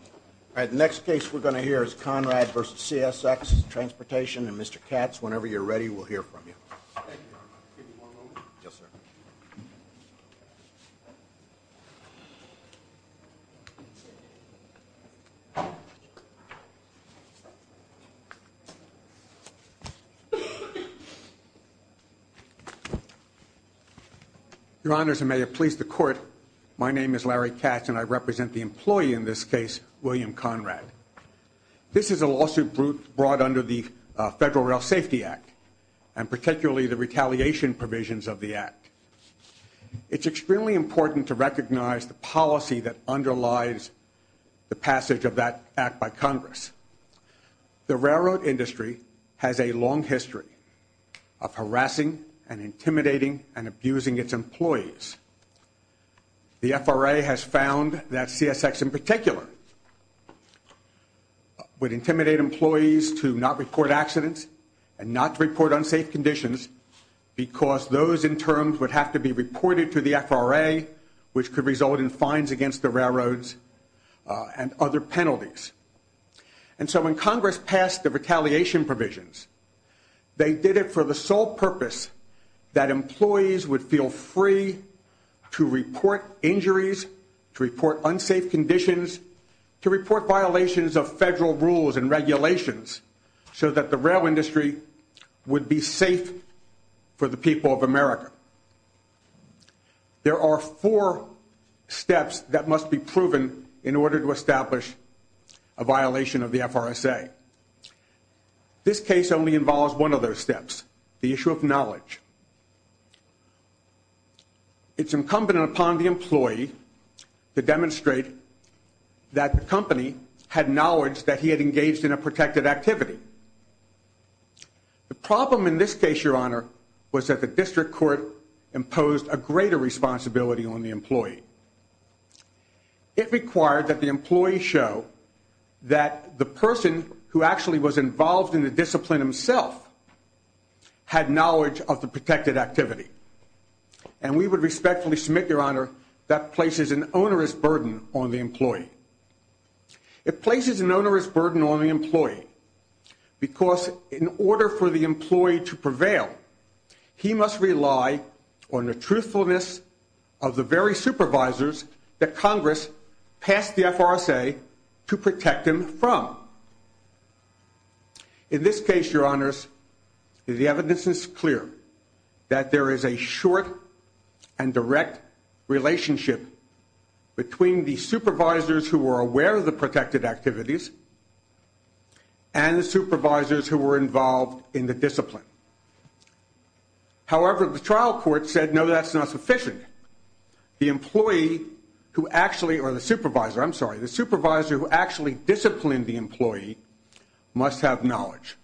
All right, the next case we're going to hear is Conrad v. CSX Transportation, and Mr. Katz, whenever you're ready, we'll hear from you. Your Honors, and may it please the Court, my name is Larry Katz, and I represent the employee in this case, William Conrad. This is a lawsuit brought under the Federal Rail Safety Act, and particularly the retaliation provisions of the act. It's extremely important to recognize the policy that underlies the passage of that act by Congress. The railroad industry has a long history of harassing and intimidating and abusing its employees. The FRA has found that CSX in particular would intimidate employees to not report accidents and not report unsafe conditions because those in terms would have to be reported to the FRA, which could result in fines against the railroads and other penalties. And so when Congress passed the retaliation provisions, they did it for the sole purpose that employees would feel free to report injuries, to report unsafe conditions, to report violations of federal rules and regulations so that the rail industry would be safe for the people of America. There are four steps that must be proven in order to establish a violation of the FRSA. This case only involves one of those steps, the issue of knowledge. It's incumbent upon the employee to demonstrate that the company had knowledge that he had engaged in a protected activity. The problem in this case, Your Honor, was that the district court imposed a greater responsibility on the employee. It required that the employee show that the person who actually was involved in the discipline himself had knowledge of the protected activity. And we would respectfully submit, Your Honor, that places an onerous burden on the employee. It places an onerous burden on the employee because in order for the employee to prevail, he must rely on the truthfulness of the very supervisors that Congress passed the FRSA to protect him from. In this case, Your Honors, the evidence is clear that there is a short and direct relationship between the supervisors who are aware of the protected activities and the supervisors who were involved in the discipline. However, the trial court said, no, that's not sufficient. The employee who actually, or the supervisor, I'm sorry, the supervisor who actually disciplined the employee must have knowledge.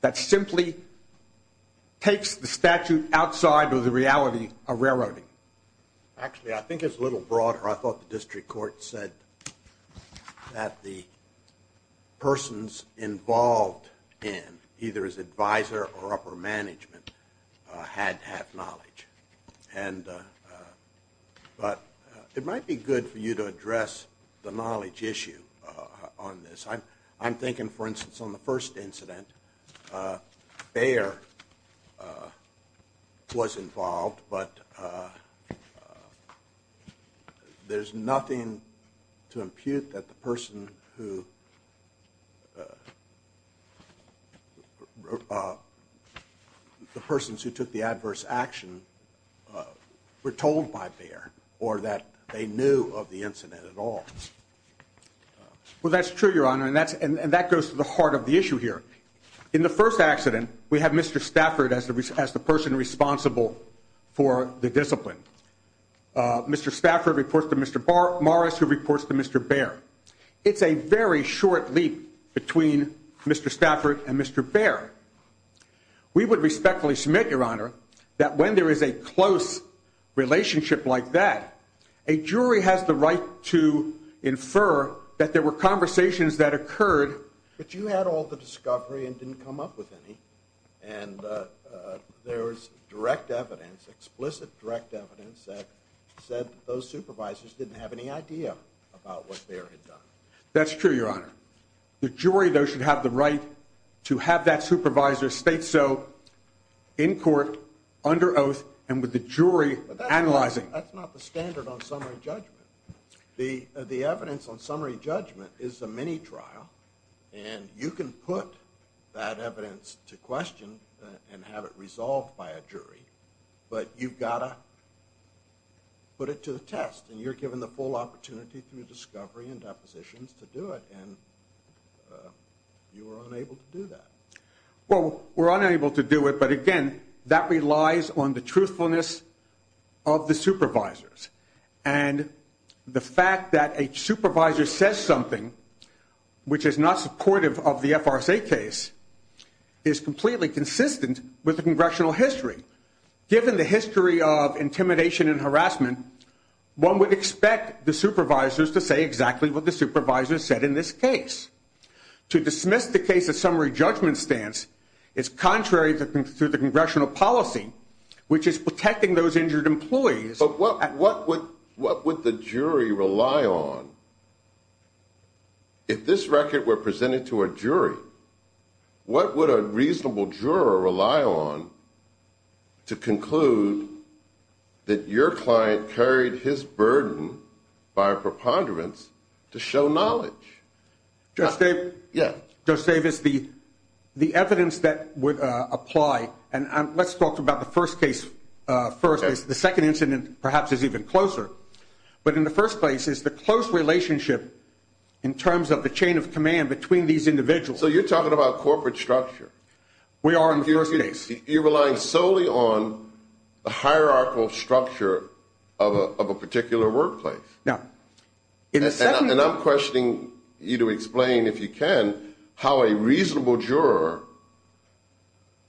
That simply takes the statute outside of the reality of railroading. Actually, I think it's a little broader. I thought the district court said that the persons involved in either as advisor or upper management had had knowledge. But it might be good for you to address the knowledge issue on this. I'm thinking, for instance, on the first incident, Bayer was involved, but there's nothing to impute that the persons who took the adverse action were told by Bayer or that they knew of the incident at all. Well, that's true, Your Honor, and that goes to the heart of the issue here. In the first accident, we have Mr. Stafford as the person responsible for the discipline. Mr. Stafford reports to Mr. Morris, who reports to Mr. Bayer. It's a very short leap between Mr. Stafford and Mr. Bayer. We would respectfully submit, Your Honor, that when there is a close relationship like that, a jury has the right to infer that there were conversations that occurred. But you had all the discovery and didn't come up with any, and there was direct evidence, explicit direct evidence that said those supervisors didn't have any idea about what Bayer had done. That's true, Your Honor. The jury, though, should have the right to have that supervisor state so in court, under oath, and with the jury analyzing. But that's not the standard on summary judgment. The evidence on summary judgment is a mini-trial, and you can put that evidence to question and have it resolved by a jury, but you've got to put it to the test, and you're given the full opportunity through discovery and depositions to do it, and you were unable to do that. Well, we're unable to do it, but, again, that relies on the truthfulness of the supervisors. And the fact that a supervisor says something which is not supportive of the FRSA case is completely consistent with the congressional history. Given the history of intimidation and harassment, one would expect the supervisors to say exactly what the supervisors said in this case. To dismiss the case of summary judgment stance is contrary to the congressional policy, which is protecting those injured employees. But what would the jury rely on? If this record were presented to a jury, what would a reasonable juror rely on to conclude that your client carried his burden by a preponderance to show knowledge? Judge Davis, the evidence that would apply, and let's talk about the first case first. The second incident perhaps is even closer. But in the first place is the close relationship in terms of the chain of command between these individuals. So you're talking about corporate structure. We are in the first case. You're relying solely on the hierarchical structure of a particular workplace. Now, in the second one. And I'm questioning you to explain, if you can, how a reasonable juror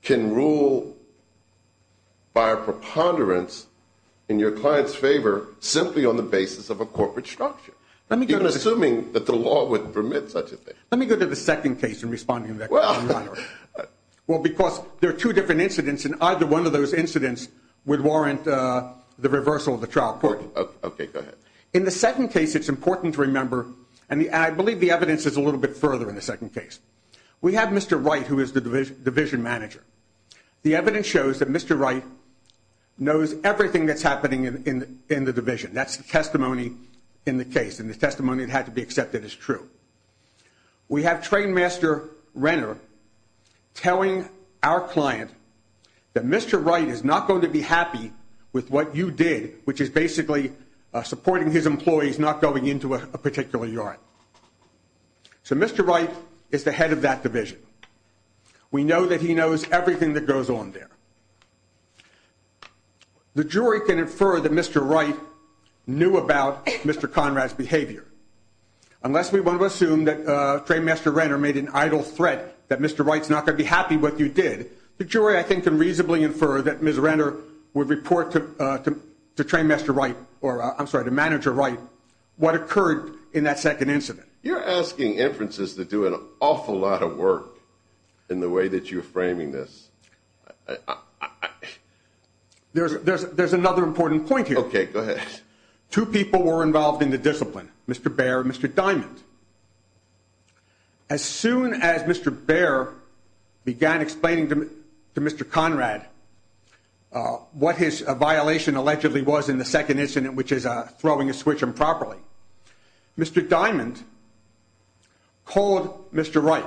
can rule by a preponderance in your client's favor simply on the basis of a corporate structure, even assuming that the law would permit such a thing. Let me go to the second case in responding to that, Your Honor. Well, because there are two different incidents, and either one of those incidents would warrant the reversal of the trial court. Okay, go ahead. In the second case, it's important to remember, and I believe the evidence is a little bit further in the second case. We have Mr. Wright, who is the division manager. The evidence shows that Mr. Wright knows everything that's happening in the division. That's the testimony in the case, and the testimony that had to be accepted as true. We have Trainmaster Renner telling our client that Mr. Wright is not going to be happy with what you did, which is basically supporting his employees not going into a particular yard. So Mr. Wright is the head of that division. We know that he knows everything that goes on there. The jury can infer that Mr. Wright knew about Mr. Conrad's behavior. Unless we want to assume that Trainmaster Renner made an idle threat that Mr. Wright's not going to be happy with what you did, the jury, I think, can reasonably infer that Ms. Renner would report to Manager Wright what occurred in that second incident. You're asking inferences that do an awful lot of work in the way that you're framing this. There's another important point here. OK, go ahead. Two people were involved in the discipline, Mr. Baer and Mr. Diamond. As soon as Mr. Baer began explaining to Mr. Conrad what his violation allegedly was in the second incident, which is throwing a switch improperly, Mr. Diamond called Mr. Wright.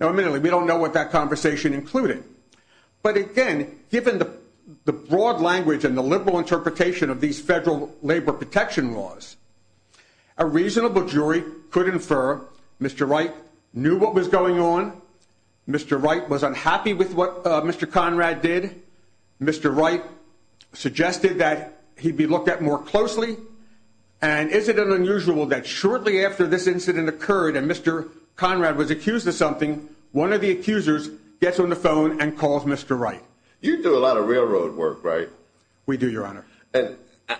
Now, admittedly, we don't know what that conversation included. But again, given the broad language and the liberal interpretation of these federal labor protection laws, a reasonable jury could infer Mr. Wright knew what was going on. Mr. Wright was unhappy with what Mr. Conrad did. Mr. Wright suggested that he'd be looked at more closely. And is it unusual that shortly after this incident occurred and Mr. Conrad was accused of something, one of the accusers gets on the phone and calls Mr. Wright? You do a lot of railroad work, right? We do, Your Honor.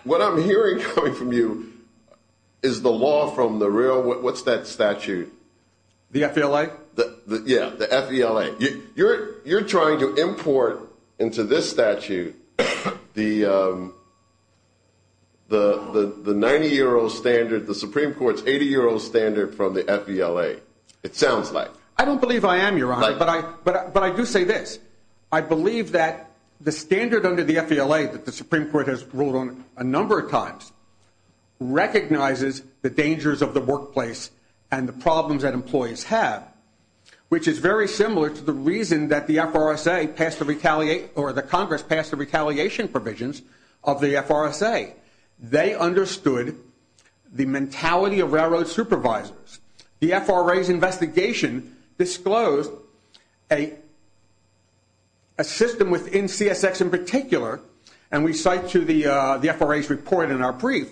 What I'm hearing from you is the law from the rail. What's that statute? The F.E.L.A.? Yeah, the F.E.L.A. You're trying to import into this statute the 90-year-old standard, the Supreme Court's 80-year-old standard from the F.E.L.A. It sounds like. I don't believe I am, Your Honor, but I do say this. I believe that the standard under the F.E.L.A. that the Supreme Court has ruled on a number of times recognizes the dangers of the workplace and the problems that employees have, which is very similar to the reason that the F.R.S.A. or the Congress passed the retaliation provisions of the F.R.S.A. They understood the mentality of railroad supervisors. The F.R.A.'s investigation disclosed a system within CSX in particular, and we cite to the F.R.A.'s report in our brief,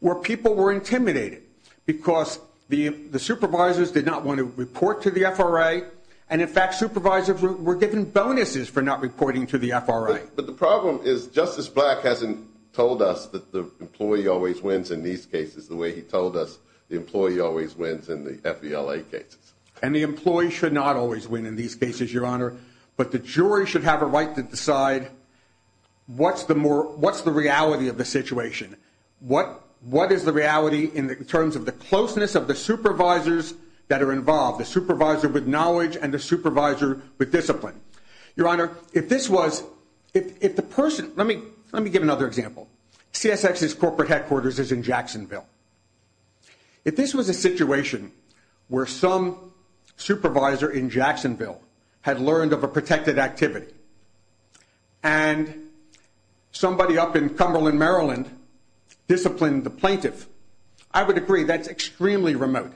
where people were intimidated because the supervisors did not want to report to the F.R.A., and, in fact, supervisors were given bonuses for not reporting to the F.R.A. But the problem is Justice Black hasn't told us that the employee always wins in these cases the way he told us the employee always wins in the F.E.L.A. cases. And the employee should not always win in these cases, Your Honor, but the jury should have a right to decide what's the reality of the situation, what is the reality in terms of the closeness of the supervisors that are involved, the supervisor with knowledge and the supervisor with discipline. Your Honor, if this was, if the person, let me give another example. CSX's corporate headquarters is in Jacksonville. If this was a situation where some supervisor in Jacksonville had learned of a protected activity and somebody up in Cumberland, Maryland, disciplined the plaintiff, I would agree that's extremely remote.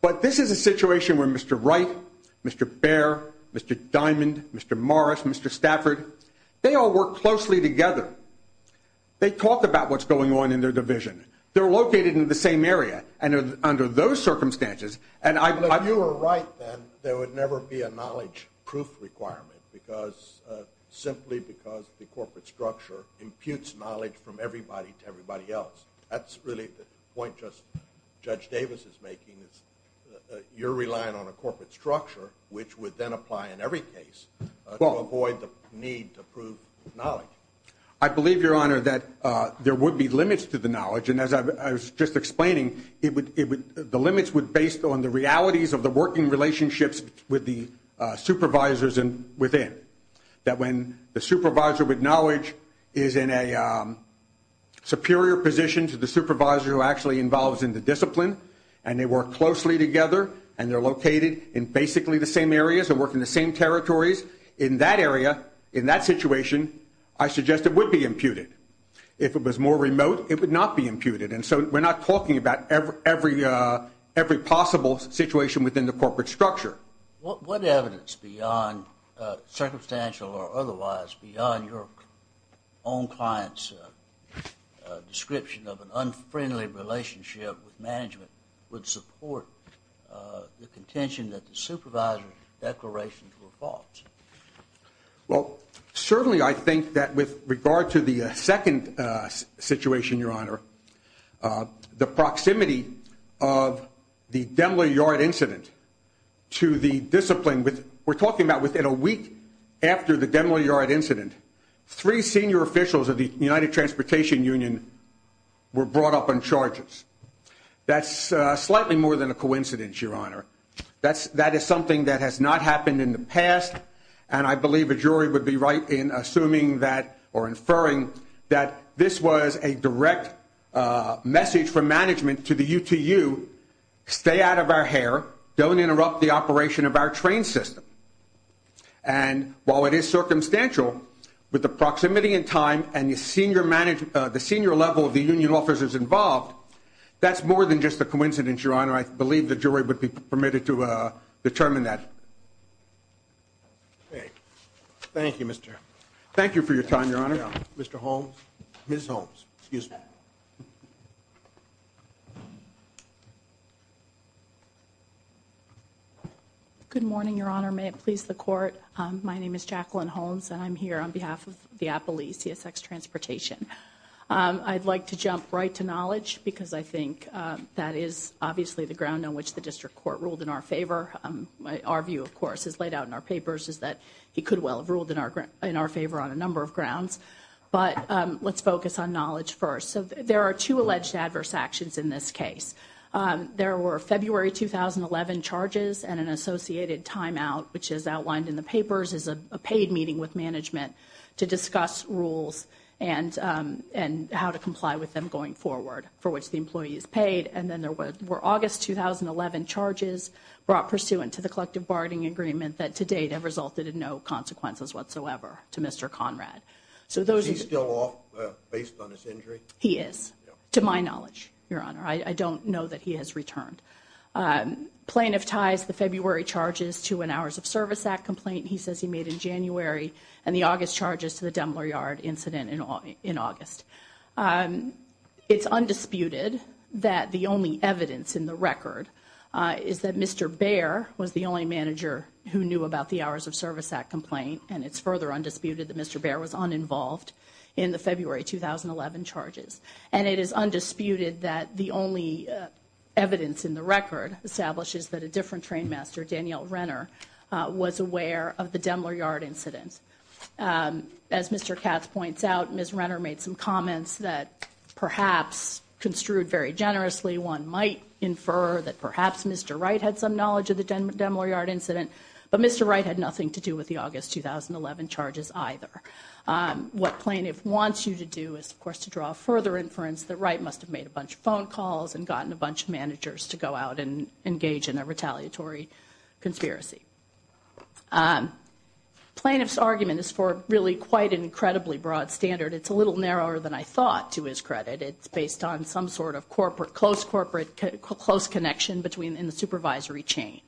But this is a situation where Mr. Wright, Mr. Bair, Mr. Diamond, Mr. Morris, Mr. Stafford, they all work closely together. They talk about what's going on in their division. They're located in the same area. And under those circumstances, and I believe... But if you were right, then, there would never be a knowledge proof requirement simply because the corporate structure imputes knowledge from everybody to everybody else. That's really the point Judge Davis is making is you're relying on a corporate structure, which would then apply in every case to avoid the need to prove knowledge. I believe, Your Honor, that there would be limits to the knowledge. And as I was just explaining, the limits would, based on the realities of the working relationships with the supervisors within, that when the supervisor with knowledge is in a superior position to the supervisor who actually involves in the discipline and they work closely together and they're located in basically the same areas and work in the same territories, in that area, in that situation, I suggest it would be imputed. If it was more remote, it would not be imputed. And so we're not talking about every possible situation within the corporate structure. What evidence beyond circumstantial or otherwise beyond your own client's description of an unfriendly relationship with management would support the contention that the supervisor's declarations were false? Well, certainly I think that with regard to the second situation, Your Honor, the proximity of the Demler-Yard incident to the discipline, we're talking about within a week after the Demler-Yard incident, three senior officials of the United Transportation Union were brought up on charges. That's slightly more than a coincidence, Your Honor. That is something that has not happened in the past, and I believe a jury would be right in assuming that or inferring that this was a direct message from management to the UTU, stay out of our hair, don't interrupt the operation of our train system. And while it is circumstantial, with the proximity in time and the senior level of the union officers involved, that's more than just a coincidence, Your Honor. I believe the jury would be permitted to determine that. Okay. Thank you, Mr. Thank you for your time, Your Honor. Mr. Holmes, Ms. Holmes, excuse me. Good morning, Your Honor. May it please the Court, my name is Jacqueline Holmes, and I'm here on behalf of the Appalachian CSX Transportation. I'd like to jump right to knowledge because I think that is obviously the ground on which the district court ruled in our favor. Our view, of course, as laid out in our papers is that he could well have ruled in our favor on a number of grounds. But let's focus on knowledge first. So there are two alleged adversaries. There were February 2011 charges and an associated timeout, which is outlined in the papers as a paid meeting with management to discuss rules and how to comply with them going forward for which the employee is paid. And then there were August 2011 charges brought pursuant to the collective bargaining agreement that to date have resulted in no consequences whatsoever to Mr. Conrad. Is he still off based on his injury? He is, to my knowledge, Your Honor. I don't know that he has returned. Plaintiff ties the February charges to an Hours of Service Act complaint he says he made in January and the August charges to the Dumbler Yard incident in August. It's undisputed that the only evidence in the record is that Mr. Bair was the only manager who knew about the Hours of Service Act complaint, and it's further undisputed that Mr. Bair was uninvolved in the February 2011 charges. And it is undisputed that the only evidence in the record establishes that a different trainmaster, Danielle Renner, was aware of the Dumbler Yard incident. As Mr. Katz points out, Ms. Renner made some comments that perhaps construed very generously. One might infer that perhaps Mr. Wright had some knowledge of the Dumbler Yard incident, but Mr. Wright had nothing to do with the August 2011 charges either. What plaintiff wants you to do is, of course, to draw further inference that Wright must have made a bunch of phone calls and gotten a bunch of managers to go out and engage in a retaliatory conspiracy. Plaintiff's argument is for really quite an incredibly broad standard. It's a little narrower than I thought, to his credit. It's based on some sort of close connection in the supervisory chain,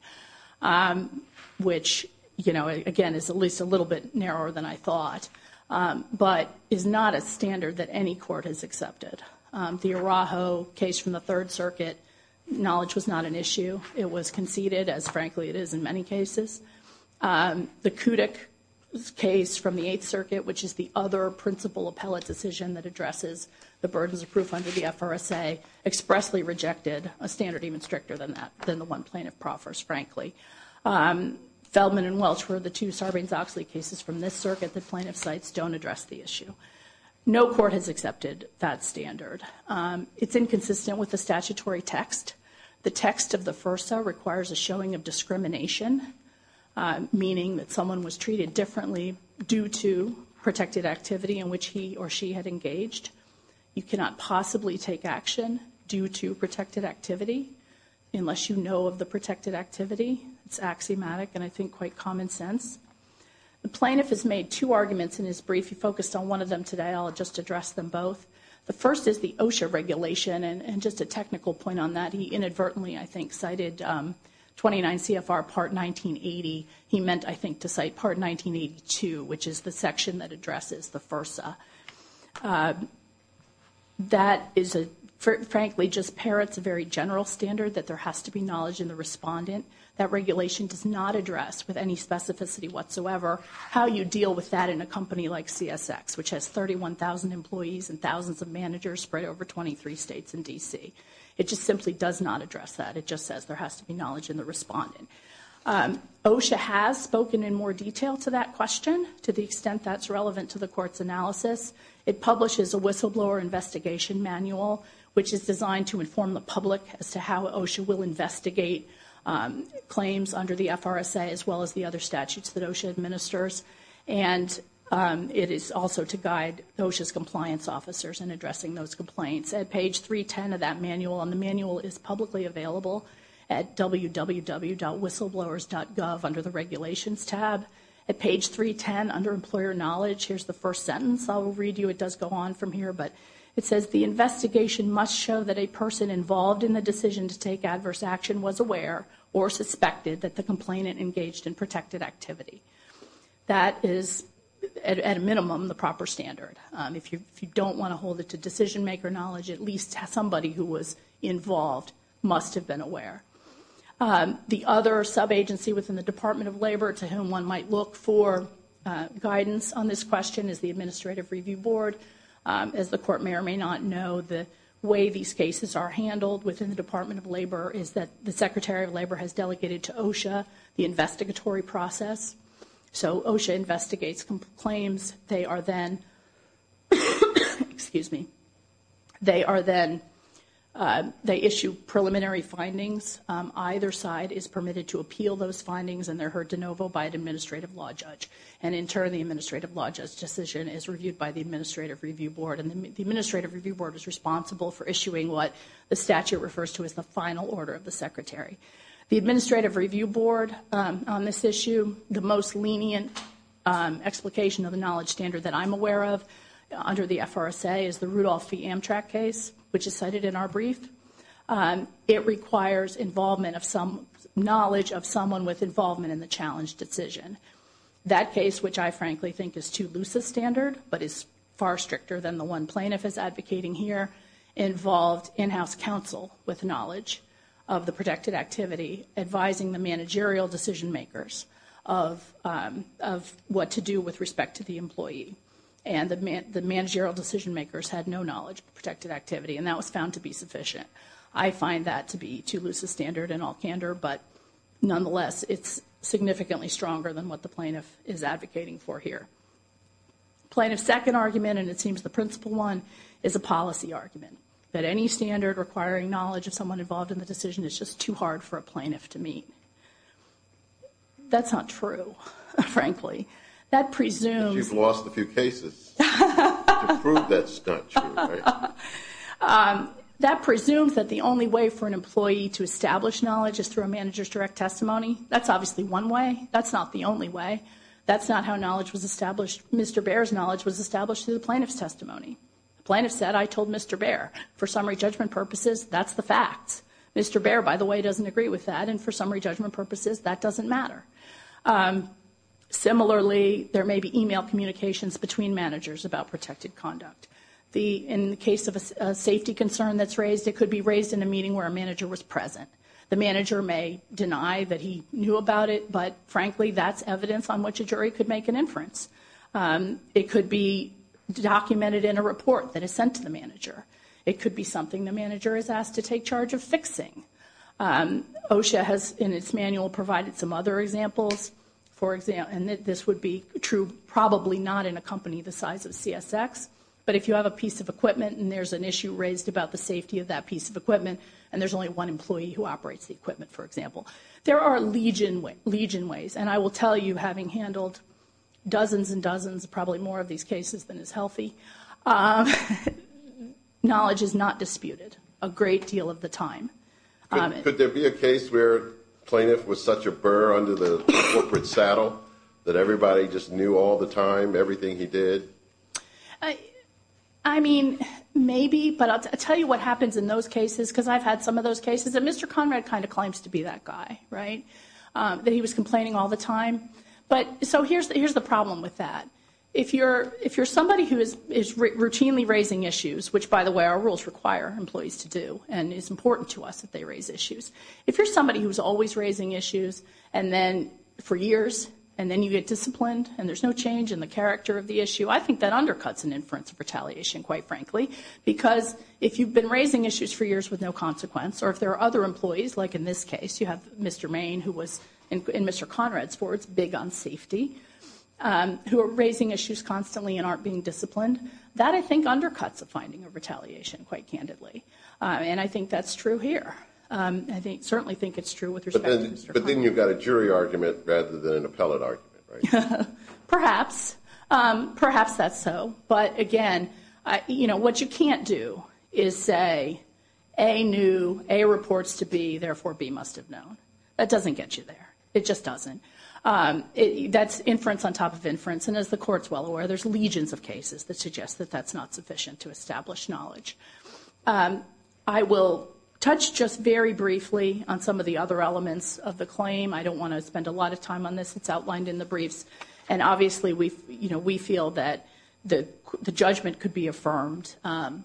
which, again, is at least a little bit narrower than I thought, but is not a standard that any court has accepted. The Araujo case from the Third Circuit, knowledge was not an issue. It was conceded, as frankly it is in many cases. The Kudyk case from the Eighth Circuit, which is the other principal appellate decision that addresses the burdens of proof under the FRSA, expressly rejected a standard even stricter than that, than the one plaintiff proffers, frankly. Feldman and Welch were the two Sarbanes-Oxley cases from this circuit that plaintiff cites don't address the issue. No court has accepted that standard. It's inconsistent with the statutory text. The text of the FRSA requires a showing of discrimination, meaning that someone was treated differently due to protected activity in which he or she had engaged. You cannot possibly take action due to protected activity unless you know of the protected activity. It's axiomatic and, I think, quite common sense. The plaintiff has made two arguments in his brief. He focused on one of them today. I'll just address them both. The first is the OSHA regulation, and just a technical point on that. He inadvertently, I think, cited 29 CFR Part 1980. He meant, I think, to cite Part 1982, which is the section that addresses the FRSA. That is a, frankly, just parrots a very general standard that there has to be knowledge in the respondent. That regulation does not address with any specificity whatsoever how you deal with that in a company like CSX, which has 31,000 employees and thousands of managers spread over 23 states and D.C. It just simply does not address that. It just says there has to be knowledge in the respondent. OSHA has spoken in more detail to that question, to the extent that's relevant to the Court's analysis. It publishes a whistleblower investigation manual, which is designed to inform the public as to how OSHA will investigate claims under the FRSA, as well as the other statutes that OSHA administers. And it is also to guide OSHA's compliance officers in addressing those complaints. At page 310 of that manual, and the manual is publicly available at www.whistleblowers.gov under the regulations tab. At page 310, under employer knowledge, here's the first sentence. I will read you. It does go on from here, but it says, the investigation must show that a person involved in the decision to take adverse action was aware or suspected that the complainant engaged in protected activity. That is, at a minimum, the proper standard. If you don't want to hold it to decision-maker knowledge, at least somebody who was involved must have been aware. The other sub-agency within the Department of Labor to whom one might look for guidance on this question is the Administrative Review Board. As the Court Mayor may not know, the way these cases are handled within the Department of Labor is that the Secretary of Labor has delegated to OSHA the investigatory process. So OSHA investigates claims. They are then, they issue preliminary findings. Either side is permitted to appeal those findings, and they're heard de novo by an administrative law judge. And in turn, the administrative law judge's decision is reviewed by the Administrative Review Board. And the Administrative Review Board is responsible for issuing what the statute refers to as the final order of the Secretary. The Administrative Review Board on this issue, the most lenient explication of the knowledge standard that I'm aware of under the FRSA is the Rudolph v. Amtrak case, which is cited in our brief. It requires knowledge of someone with involvement in the challenged decision. That case, which I frankly think is too loose a standard, but is far stricter than the one plaintiff is advocating here, involved in-house counsel with knowledge of the protected activity, advising the managerial decision makers of what to do with respect to the employee. And the managerial decision makers had no knowledge of protected activity, and that was found to be sufficient. I find that to be too loose a standard in all candor, but nonetheless, it's significantly stronger than what the plaintiff is advocating for here. Plaintiff's second argument, and it seems the principal one, is a policy argument, that any standard requiring knowledge of someone involved in the decision is just too hard for a plaintiff to meet. That's not true, frankly. You've lost a few cases to prove that's not true. That presumes that the only way for an employee to establish knowledge is through a manager's direct testimony. That's obviously one way. That's not the only way. That's not how knowledge was established. Mr. Baer's knowledge was established through the plaintiff's testimony. The plaintiff said, I told Mr. Baer, for summary judgment purposes, that's the fact. Mr. Baer, by the way, doesn't agree with that, and for summary judgment purposes, that doesn't matter. Similarly, there may be email communications between managers about protected conduct. In the case of a safety concern that's raised, it could be raised in a meeting where a manager was present. The manager may deny that he knew about it, but frankly, that's evidence on which a jury could make an inference. It could be documented in a report that is sent to the manager. It could be something the manager is asked to take charge of fixing. OSHA has, in its manual, provided some other examples, and this would be true probably not in a company the size of CSX, but if you have a piece of equipment and there's an issue raised about the safety of that piece of equipment and there's only one employee who operates the equipment, for example. There are legion ways, and I will tell you, having handled dozens and dozens, probably more of these cases than is healthy, knowledge is not disputed a great deal of the time. Could there be a case where a plaintiff was such a burr under the corporate saddle that everybody just knew all the time everything he did? I mean, maybe, but I'll tell you what happens in those cases because I've had some of those cases, and Mr. Conrad kind of claims to be that guy, right, that he was complaining all the time. So here's the problem with that. If you're somebody who is routinely raising issues, which, by the way, our rules require employees to do and it's important to us that they raise issues, if you're somebody who's always raising issues and then for years and then you get disciplined and there's no change in the character of the issue, I think that undercuts an inference of retaliation, quite frankly, because if you've been raising issues for years with no consequence or if there are other employees, like in this case you have Mr. Maine who was, and Mr. Conrad, for it's big on safety, who are raising issues constantly and aren't being disciplined, that I think undercuts a finding of retaliation quite candidly. And I think that's true here. I certainly think it's true with respect to Mr. Conrad. But then you've got a jury argument rather than an appellate argument, right? Perhaps. Perhaps that's so. But, again, what you can't do is say A knew, A reports to B, therefore B must have known. That doesn't get you there. It just doesn't. That's inference on top of inference. And as the Court's well aware, there's legions of cases that suggest that that's not sufficient to establish knowledge. I will touch just very briefly on some of the other elements of the claim. I don't want to spend a lot of time on this. It's outlined in the briefs. And, obviously, we feel that the judgment could be affirmed on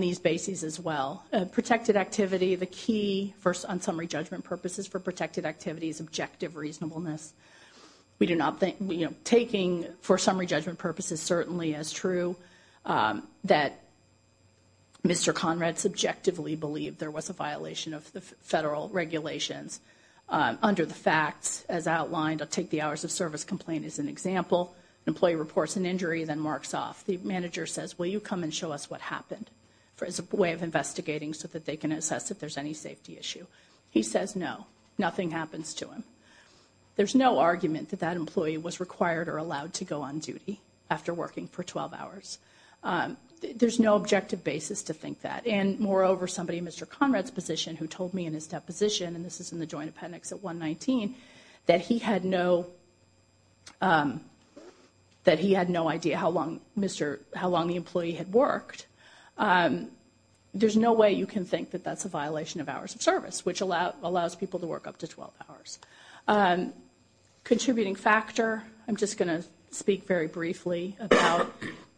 these bases as well. Protected activity, the key on summary judgment purposes for protected activity is objective reasonableness. Taking for summary judgment purposes certainly as true that Mr. Conrad subjectively believed there was a violation of the federal regulations. Under the facts, as outlined, I'll take the hours of service complaint as an example. An employee reports an injury, then marks off. The manager says, will you come and show us what happened as a way of investigating so that they can assess if there's any safety issue. He says no. Nothing happens to him. There's no argument that that employee was required or allowed to go on duty after working for 12 hours. There's no objective basis to think that. And, moreover, somebody in Mr. Conrad's position who told me in his deposition, and this is in the joint appendix at 119, that he had no idea how long the employee had worked. There's no way you can think that that's a violation of hours of service, which allows people to work up to 12 hours. Contributing factor, I'm just going to speak very briefly about.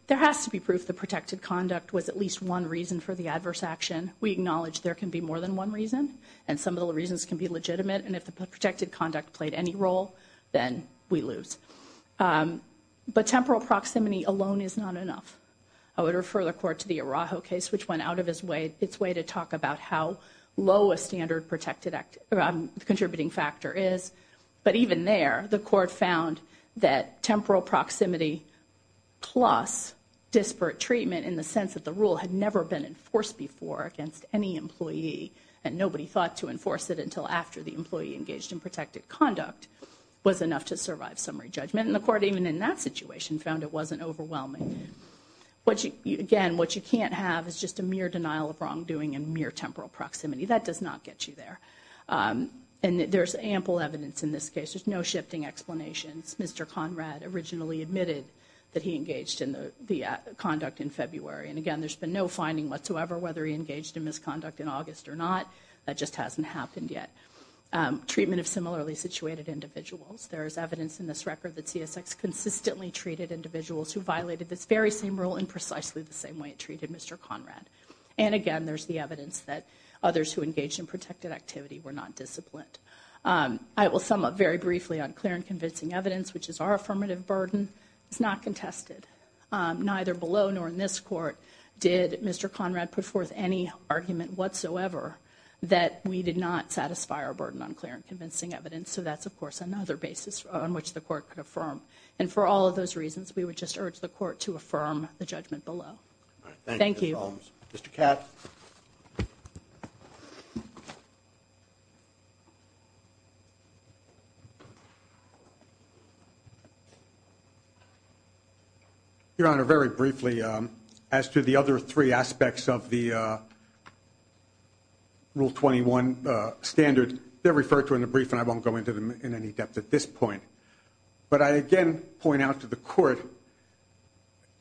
There has to be proof the protected conduct was at least one reason for the adverse action. We acknowledge there can be more than one reason, and some of the reasons can be legitimate. And if the protected conduct played any role, then we lose. But temporal proximity alone is not enough. I would refer the court to the Araujo case, which went out of its way to talk about how low a standard contributing factor is. But even there, the court found that temporal proximity plus disparate treatment, in the sense that the rule had never been enforced before against any employee, and nobody thought to enforce it until after the employee engaged in protected conduct, was enough to survive summary judgment. And the court, even in that situation, found it wasn't overwhelming. Again, what you can't have is just a mere denial of wrongdoing and mere temporal proximity. That does not get you there. And there's ample evidence in this case. There's no shifting explanations. Mr. Conrad originally admitted that he engaged in the conduct in February. And again, there's been no finding whatsoever whether he engaged in misconduct in August or not. That just hasn't happened yet. Treatment of similarly situated individuals. There is evidence in this record that CSX consistently treated individuals who violated this very same rule in precisely the same way it treated Mr. Conrad. And again, there's the evidence that others who engaged in protected activity were not disciplined. I will sum up very briefly on clear and convincing evidence, which is our affirmative burden. It's not contested. Neither below nor in this court did Mr. Conrad put forth any argument whatsoever that we did not satisfy our burden on clear and convincing evidence. So that's, of course, another basis on which the court could affirm. And for all of those reasons, we would just urge the court to affirm the judgment below. Thank you. Mr. Katz. Your Honor, very briefly, as to the other three aspects of the Rule 21 standard, they're referred to in the brief and I won't go into them in any depth at this point. But I again point out to the court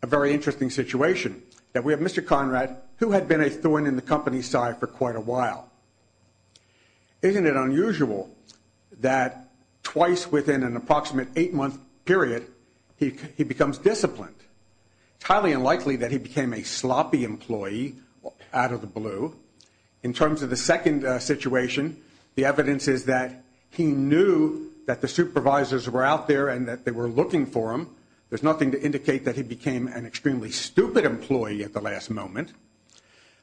a very interesting situation, that we have Mr. Conrad who had been a thorn in the company's side for quite a while. Isn't it unusual that twice within an approximate eight-month period he becomes disciplined? It's highly unlikely that he became a sloppy employee out of the blue. In terms of the second situation, the evidence is that he knew that the supervisors were out there and that they were looking for him. There's nothing to indicate that he became an extremely stupid employee at the last moment.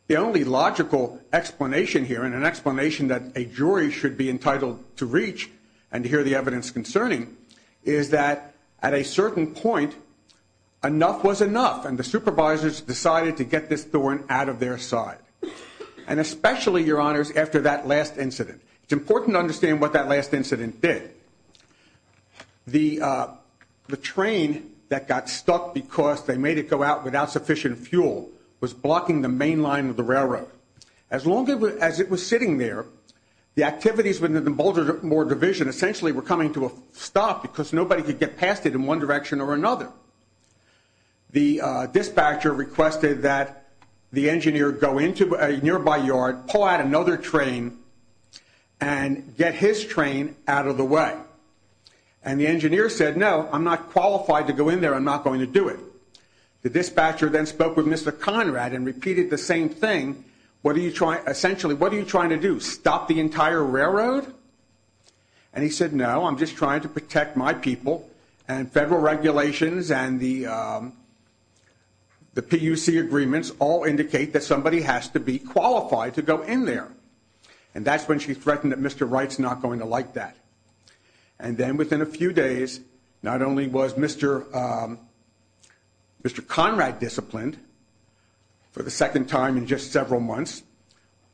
The only logical explanation here and an explanation that a jury should be entitled to reach and hear the evidence concerning is that at a certain point, enough was enough and the supervisors decided to get this thorn out of their side. And especially, Your Honors, after that last incident. It's important to understand what that last incident did. The train that got stuck because they made it go out without sufficient fuel was blocking the main line of the railroad. As long as it was sitting there, the activities within the Baltimore Division essentially were coming to a stop because nobody could get past it in one direction or another. The dispatcher requested that the engineer go into a nearby yard, pull out another train and get his train out of the way. And the engineer said, no, I'm not qualified to go in there. I'm not going to do it. The dispatcher then spoke with Mr. Conrad and repeated the same thing. Essentially, what are you trying to do, stop the entire railroad? And he said, no, I'm just trying to protect my people and federal regulations and the PUC agreements all indicate that somebody has to be qualified to go in there. And that's when she threatened that Mr. Wright's not going to like that. And then within a few days, not only was Mr. Conrad disciplined for the second time in just several months,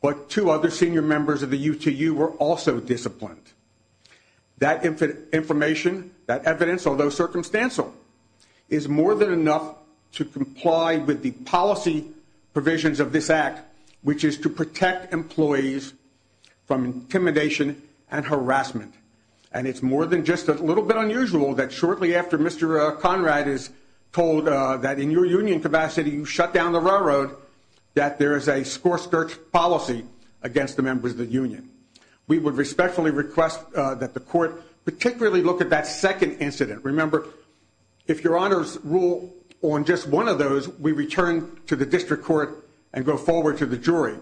but two other senior members of the UTU were also disciplined. That information, that evidence, although circumstantial, is more than enough to comply with the policy provisions of this act, which is to protect employees from intimidation and harassment. And it's more than just a little bit unusual that shortly after Mr. Conrad is told that in your union capacity you shut down the railroad, that there is a score-skirt policy against the members of the union. We would respectfully request that the court particularly look at that second incident. Remember, if your honors rule on just one of those, we return to the district court and go forward to the jury.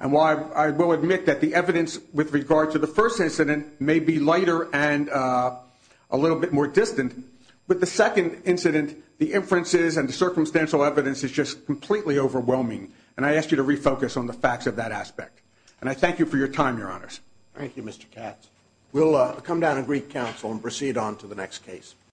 And while I will admit that the evidence with regard to the first incident may be lighter and a little bit more distant, with the second incident, the inferences and the circumstantial evidence is just completely overwhelming. And I ask you to refocus on the facts of that aspect. And I thank you for your time, your honors. Thank you, Mr. Katz. We'll come down to Greek Council and proceed on to the next case.